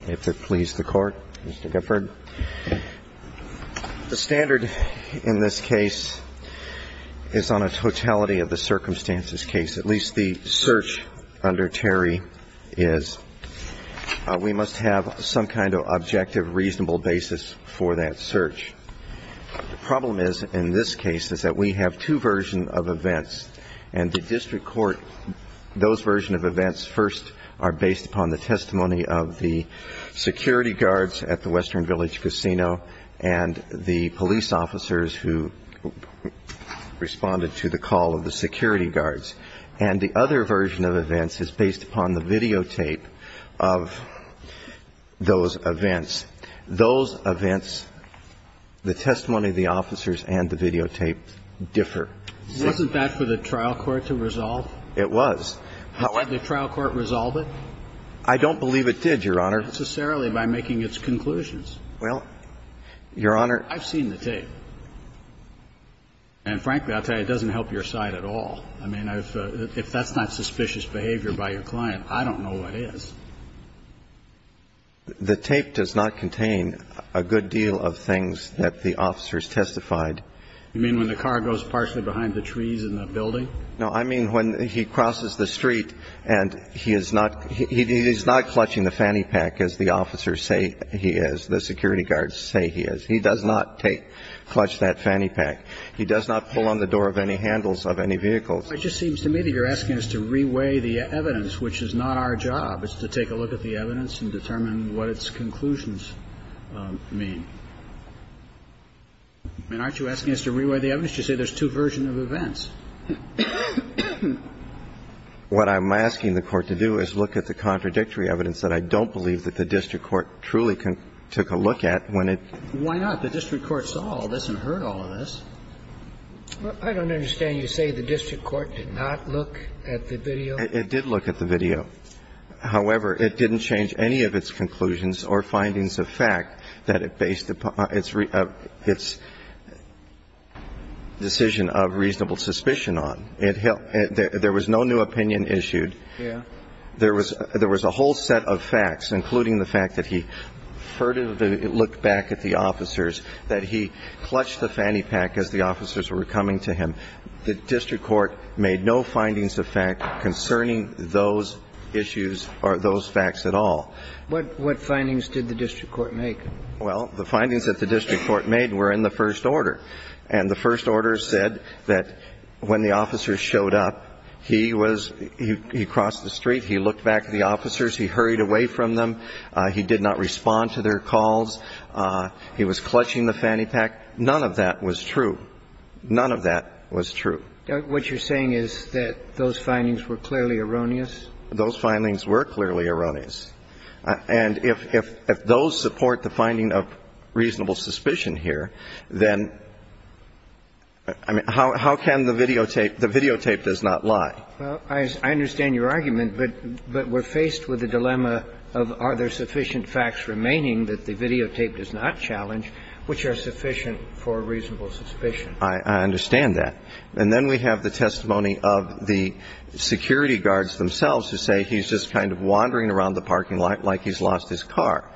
the court. Mr. Gufford. The standard in this case is on a totality of the circumstances case, at least the search under Terry is. We must have some kind of objective, reasonable basis for that search. The problem is, in this case, is that we have two versions of events and the district court, those versions of events first are based upon the testimony of the security guards at the Western Village Casino and the police officers who responded to the call of the security guards. And the other version of events is based upon the videotape of those events. Those events, the testimony of the officers and the videotape differ. Wasn't that for the trial court to resolve? It was. How would the trial court resolve it? I don't believe it did, Your Honor. Not necessarily by making its conclusions. Well, Your Honor. I've seen the tape. And frankly, I'll tell you, it doesn't help your side at all. I mean, if that's not suspicious behavior by your client, I don't know what is. The tape does not contain a good deal of things that the officers testified. You mean when the car goes partially behind the trees in the building? No, I mean when he crosses the street and he is not clutching the fanny pack as the officers say he is, the security guards say he is. He does not clutch that fanny pack. He does not pull on the door of any handles of any vehicles. It just seems to me that you're asking us to reweigh the evidence, which is not our job. It's to take a look at the evidence and determine what its conclusions mean. I mean, aren't you asking us to reweigh the evidence? You say there's two versions of it. Well, I'm not asking you to reweigh the evidence. What I'm asking the Court to do is look at the contradictory evidence that I don't believe that the district court truly took a look at when it -- Why not? The district court saw all this and heard all of this. Well, I don't understand. You say the district court did not look at the video? It did look at the video. However, it didn't change any of its conclusions or findings of fact that it based its decision of reasonable suspicion on. There was no new opinion issued. There was a whole set of facts, including the fact that he furtively looked back at the officers, that he clutched the fanny pack as the officers were coming to him. The district court made no findings of fact concerning those issues or those facts at all. What findings did the district court make? Well, the findings that the district court made were in the first order. And the first order said that when the officers showed up, he was -- he crossed the street, he looked back at the officers, he hurried away from them, he did not respond to their calls, he was clutching the fanny pack. None of that was true. None of that was true. What you're saying is that those findings were clearly erroneous? Those findings were clearly erroneous. And if those support the finding of reasonable suspicion here, then, I mean, how can the videotape --- the videotape does not lie. Well, I understand your argument, but we're faced with the dilemma of are there sufficient facts remaining that the videotape does not challenge which are sufficient for reasonable suspicion? I understand that. And then we have the testimony of the security guards themselves who say he's just kind of wandering around the parking lot like he's lost his car.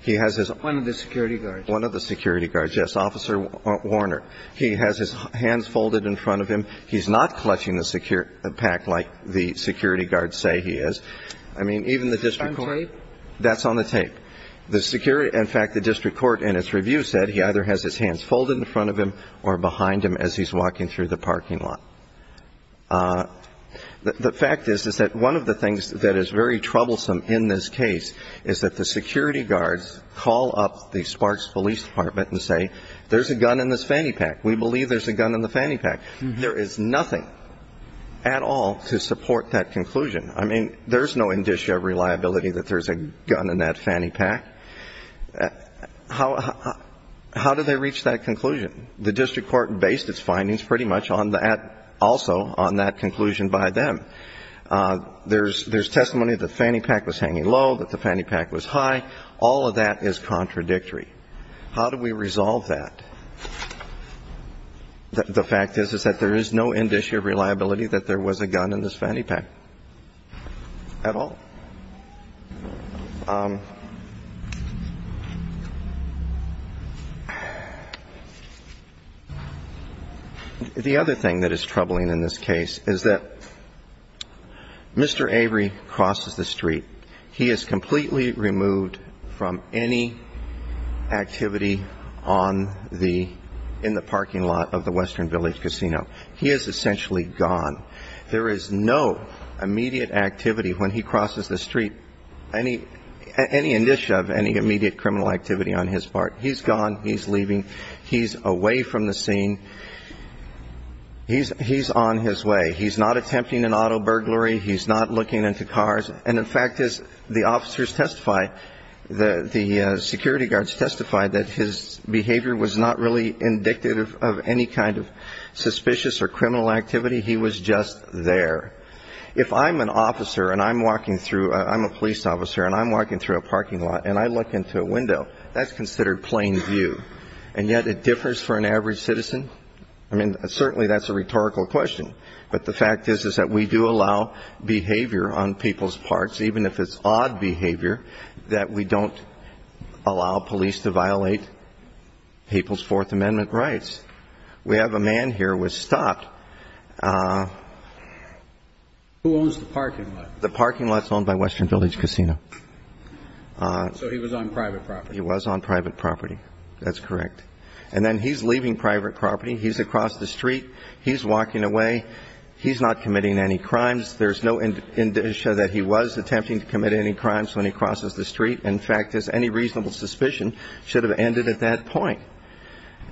He has his own of the security guards. One of the security guards, yes. Officer Warner. He has his hands folded in front of him. He's not clutching the security pack like the security guards say he is. I mean, even the district court --- On tape? That's on the tape. The security -- in fact, the district court in its review said he either has his hands folded in front of him or behind him as he's walking through the parking lot. The fact is, is that one of the things that is very troublesome in this case is that the security guards call up the Sparks Police Department and say, there's a gun in this fanny pack. We believe there's a gun in the fanny pack. There is nothing at all to support that conclusion. I mean, there's no indicia of reliability that there's a gun in that fanny pack. How do they reach that conclusion? The district court based its findings pretty much on that, also on that conclusion by them. There's testimony that the fanny pack was hanging low, that the fanny pack was high. All of that is contradictory. How do we resolve that? The fact is, is that there is no indicia of reliability that there was a gun in this fanny pack. At all. The other thing that is troubling in this case is that Mr. Avery crosses the street. He is completely removed from any activity in the parking lot of the Western Village Casino. He is essentially gone. There is no immediate activity when he crosses the street, any indicia of any immediate criminal activity on his part. He's gone. He's leaving. He's away from the scene. He's on his way. He's not attempting an auto burglary. He's not looking into cars. And in fact, as the officers testify, the security guards testify that his behavior was not really indicative of any kind of suspicious or criminal activity. He was just there. If I'm a police officer and I'm walking through a parking lot and I look into a window, that's considered plain view. And yet it differs for an average citizen? I mean, certainly that's a rhetorical question. But the fact is, is that we do allow behavior on people's parts, even if it's odd behavior, that we don't allow police to violate people's Fourth Amendment rights. We have a man here who was stopped. Who owns the parking lot? The parking lot is owned by Western Village Casino. So he was on private property? He was on private property. That's correct. And then he's leaving private property. He's across the street. He's walking away. He's not committing any crimes. There's no indication that he was attempting to commit any crimes when he crosses the street. In fact, any reasonable suspicion should have ended at that point.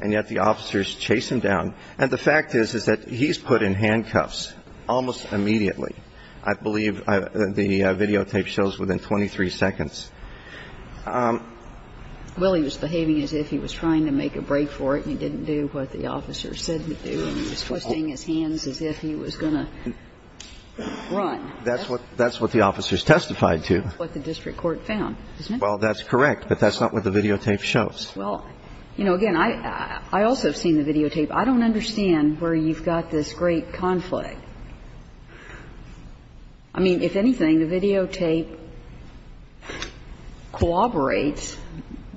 And yet the officers chase him down. And the fact is, is that he's put in handcuffs almost immediately. I believe the videotape shows within 23 seconds. Well, he was behaving as if he was trying to make a break for it, and he didn't do what the officer said he'd do. And he was twisting his hands as if he was going to run. That's what the officers testified to. That's what the district court found, isn't it? Well, that's correct, but that's not what the videotape shows. Well, you know, again, I also have seen the videotape. I don't understand where you've got this great conflict. I mean, if anything, the videotape corroborates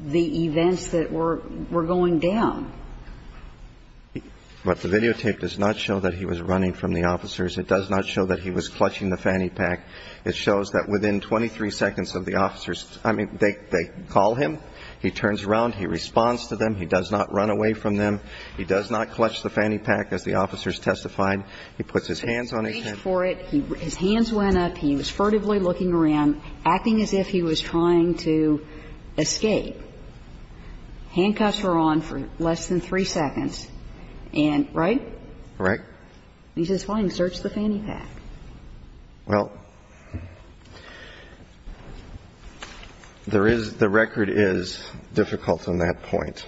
the events that were going down. But the videotape does not show that he was running from the officers. It does not show that he was clutching the fanny pack. It shows that within 23 seconds of the officers – I mean, they call him. He turns around. He responds to them. He does not run away from them. He does not clutch the fanny pack, as the officers testified. He puts his hands on his head. He reached for it. His hands went up. He was furtively looking around, acting as if he was trying to escape. Handcuffs were on for less than three seconds. And right? Right. He says, fine, search the fanny pack. Well, there is – the record is difficult on that point.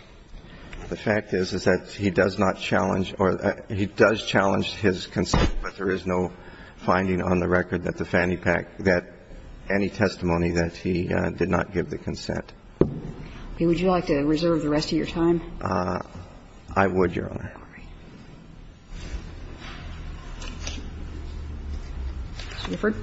The fact is, is that he does not challenge – or he does challenge his consent, but there is no finding on the record that the fanny pack – that any testimony that he did not give the consent. Okay. Would you like to reserve the rest of your time? I would, Your Honor. Mr. Gifford.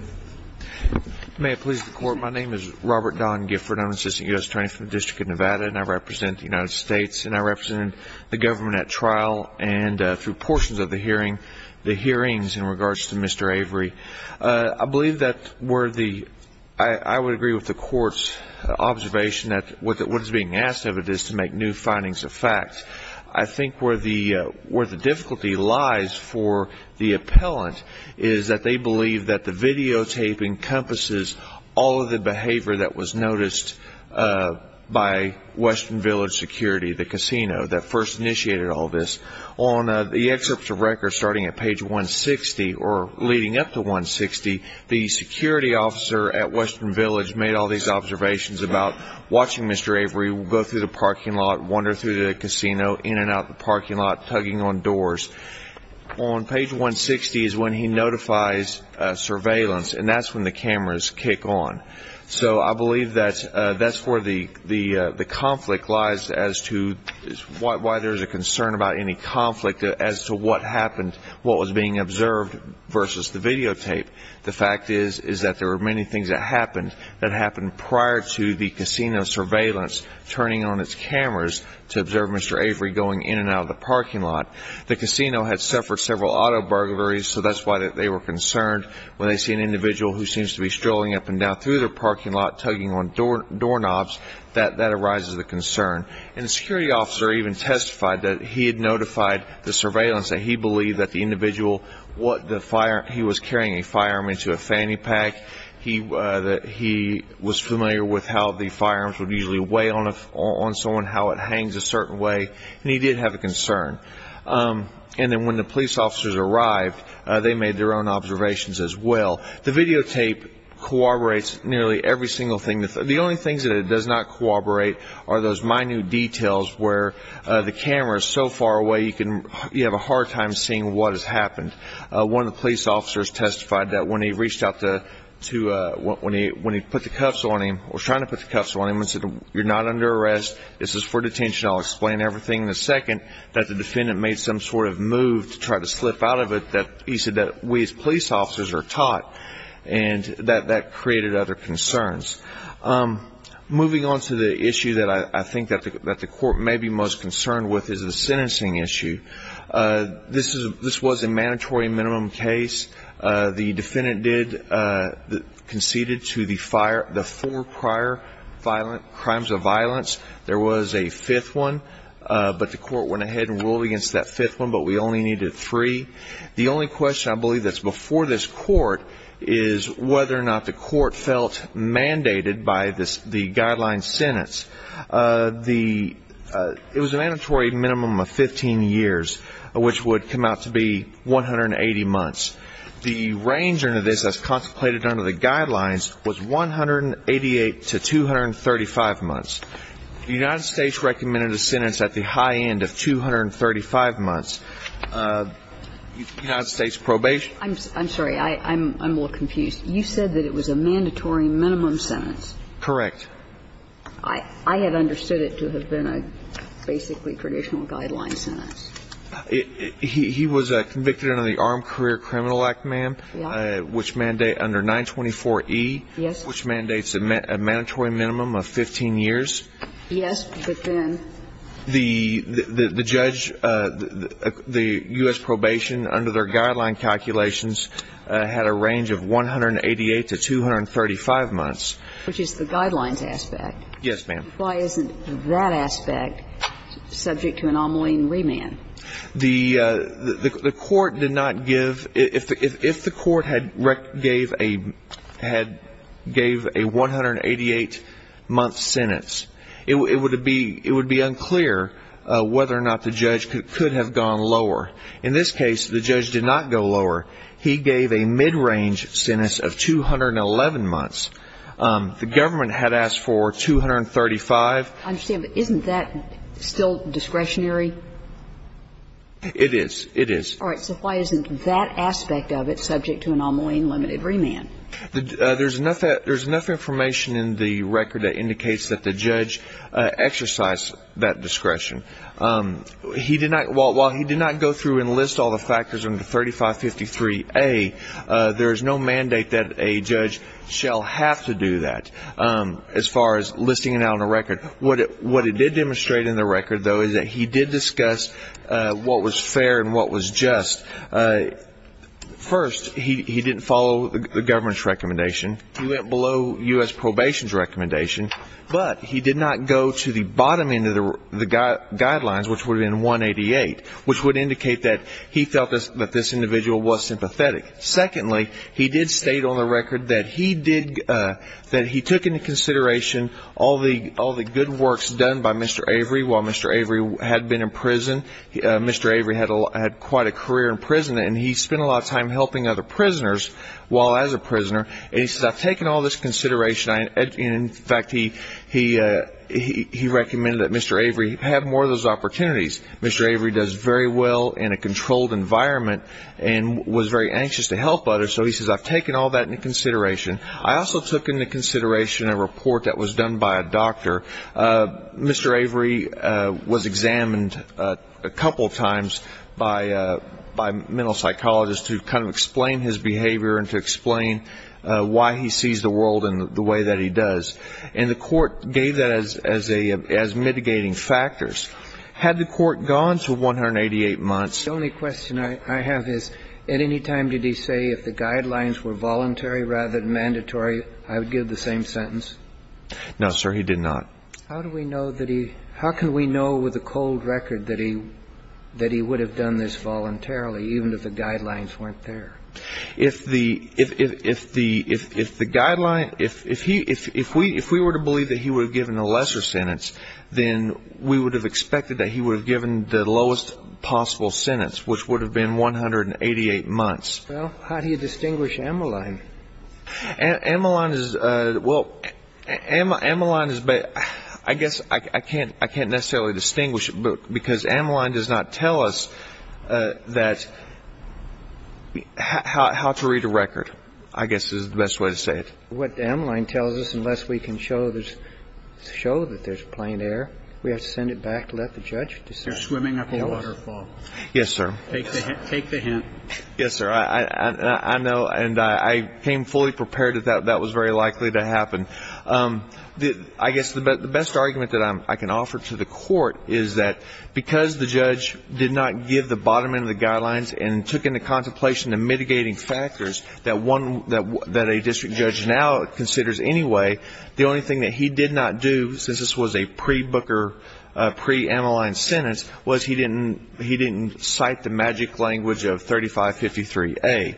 May it please the Court. My name is Robert Don Gifford. I'm an assistant U.S. attorney for the District of Nevada, and I represent the United States, and I represented the government at trial and through portions of the hearing, the hearings in regards to Mr. Avery. I believe that where the – I would agree with the Court's observation that what is being asked of it is to make new findings of fact. I think where the difficulty lies for the appellant is that they believe that the videotape encompasses all of the behavior that was noticed by Western Village Security, the casino that first initiated all this. On the excerpts of record starting at page 160 or leading up to 160, the security officer at Western Village made all these observations about watching Mr. Avery go through the parking lot, wander through the casino, in and out the parking lot, tugging on doors. On page 160 is when he notifies surveillance, and that's when the cameras kick on. So I believe that that's where the conflict lies as to why there's a concern about any conflict as to what happened, what was being observed versus the videotape. The fact is that there were many things that happened that happened prior to the casino surveillance turning on its cameras to observe Mr. Avery going in and out of the parking lot. The casino had suffered several auto burglaries, so that's why they were concerned. When they see an individual who seems to be strolling up and down through their parking lot tugging on doorknobs, that arises the concern. And the security officer even testified that he had notified the surveillance that he believed that the individual was carrying a firearm into a fanny pack, that he was familiar with how the firearms would usually weigh on someone, how it hangs a certain way, and he did have a concern. And then when the police officers arrived, they made their own observations as well. The videotape corroborates nearly every single thing. The only things that it does not corroborate are those minute details where the camera is so far away you have a hard time seeing what has happened. One of the police officers testified that when he put the cuffs on him, or was trying to put the cuffs on him, and said, you're not under arrest, this is for detention, I'll explain everything in a second, that the defendant made some sort of move to try to slip out of it that he said that we as police officers are taught, and that that created other concerns. Moving on to the issue that I think that the court may be most concerned with is the sentencing issue. This was a mandatory minimum case. The defendant conceded to the four prior crimes of violence. There was a fifth one, but the court went ahead and ruled against that fifth one, but we only needed three. The only question I believe that's before this court is whether or not the court felt mandated by the guideline sentence. It was a mandatory minimum of 15 years, which would come out to be 180 months. The range under this as contemplated under the guidelines was 188 to 235 months. The United States recommended a sentence at the high end of 235 months. United States probation. I'm sorry. I'm a little confused. You said that it was a mandatory minimum sentence. Correct. I had understood it to have been a basically traditional guideline sentence. He was convicted under the Armed Career Criminal Act, ma'am. Yeah. Which mandate under 924E. Yes. Which mandates a mandatory minimum of 15 years. Yes, but then. The judge, the U.S. probation under their guideline calculations had a range of 188 to 235 months. Which is the guidelines aspect. Yes, ma'am. Why isn't that aspect subject to anomaly and remand? The court did not give. If the court had gave a 188-month sentence, it would be unclear whether or not the judge could have gone lower. In this case, the judge did not go lower. He gave a mid-range sentence of 211 months. The government had asked for 235. I understand, but isn't that still discretionary? It is. It is. All right. So why isn't that aspect of it subject to anomaly and limited remand? There's enough information in the record that indicates that the judge exercised that discretion. While he did not go through and list all the factors under 3553A, there is no mandate that a judge shall have to do that as far as listing it out on the record. What it did demonstrate in the record, though, is that he did discuss what was fair and what was just. First, he didn't follow the government's recommendation. He went below U.S. probation's recommendation. But he did not go to the bottom end of the guidelines, which would have been 188, which would indicate that he felt that this individual was sympathetic. Secondly, he did state on the record that he took into consideration all the good works done by Mr. Avery while Mr. Avery had been in prison. Mr. Avery had quite a career in prison, and he spent a lot of time helping other prisoners while as a prisoner. He said, I've taken all this into consideration. In fact, he recommended that Mr. Avery have more of those opportunities. Mr. Avery does very well in a controlled environment and was very anxious to help others. So he says, I've taken all that into consideration. I also took into consideration a report that was done by a doctor. Mr. Avery was examined a couple times by mental psychologists to kind of explain his behavior and to explain why he sees the world in the way that he does. And the court gave that as mitigating factors. Had the court gone to 188 months... The only question I have is, at any time did he say if the guidelines were voluntary rather than mandatory, I would give the same sentence? No, sir, he did not. How do we know that he... how can we know with a cold record that he would have done this voluntarily, even if the guidelines weren't there? If the guidelines... if we were to believe that he would have given a lesser sentence, then we would have expected that he would have given the lowest possible sentence, which would have been 188 months. Well, how do you distinguish Ammaline? Ammaline is... well, Ammaline is... I guess I can't necessarily distinguish, because Ammaline does not tell us that... how to read a record, I guess is the best way to say it. What Ammaline tells us, unless we can show there's... show that there's plain air, we have to send it back to let the judge decide. You're swimming up a waterfall. Yes, sir. Take the hint. Yes, sir. I know, and I came fully prepared that that was very likely to happen. I guess the best argument that I can offer to the court is that, because the judge did not give the bottom end of the guidelines and took into contemplation the mitigating factors that a district judge now considers anyway, the only thing that he did not do, since this was a pre-Booker, pre-Ammaline sentence, was he didn't cite the magic language of 3553A.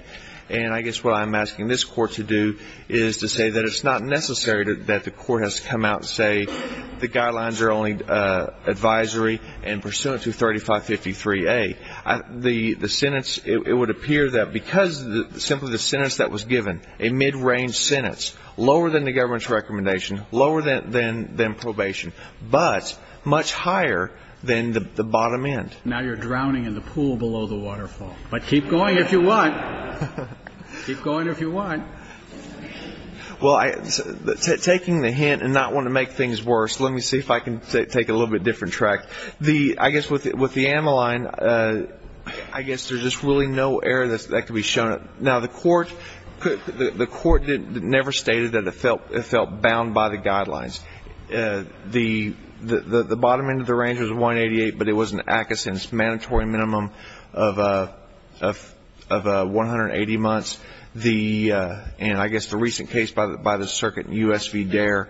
And I guess what I'm asking this court to do is to say that it's not necessary that the court has to come out and say the guidelines are only advisory and pursuant to 3553A. The sentence, it would appear that because simply the sentence that was given, a mid-range sentence, lower than the government's recommendation, lower than probation, but much higher than the bottom end. Now you're drowning in the pool below the waterfall. But keep going if you want. Keep going if you want. Well, taking the hint and not wanting to make things worse, let me see if I can take a little bit different track. I guess with the Ammaline, I guess there's just really no error that can be shown. Now, the court never stated that it felt bound by the guidelines. The bottom end of the range was 188, but it was an active sentence, mandatory minimum of 180 months. And I guess the recent case by the circuit, U.S. v. Dare,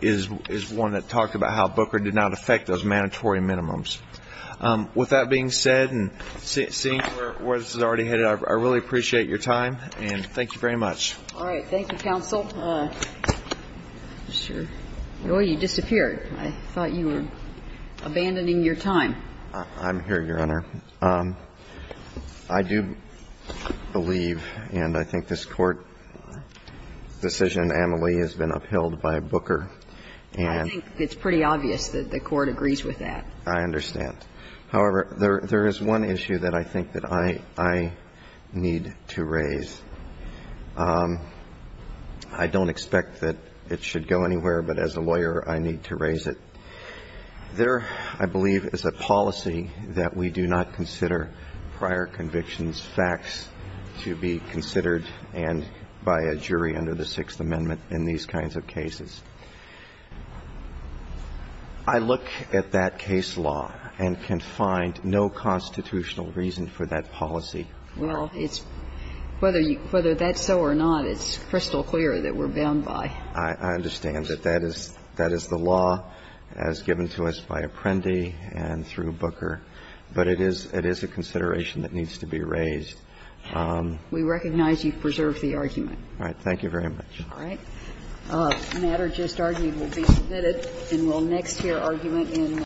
is one that talked about how Booker did not affect those mandatory minimums. With that being said, and seeing where this is already headed, I really appreciate your time, and thank you very much. All right. Thank you, counsel. Mr. Roy, you disappeared. I thought you were abandoning your time. I'm here, Your Honor. Thank you, Your Honor. I do believe, and I think this Court decision, Ammaline, has been upheld by Booker. I think it's pretty obvious that the Court agrees with that. I understand. However, there is one issue that I think that I need to raise. I don't expect that it should go anywhere, but as a lawyer, I need to raise it. There, I believe, is a policy that we do not consider prior convictions facts to be considered and by a jury under the Sixth Amendment in these kinds of cases. I look at that case law and can find no constitutional reason for that policy. Well, it's – whether that's so or not, it's crystal clear that we're bound by. I understand that that is the law as given to us by Apprendi and through Booker, but it is a consideration that needs to be raised. We recognize you've preserved the argument. All right. Thank you very much. All right. The matter just argued will be submitted, and we'll next hear argument in.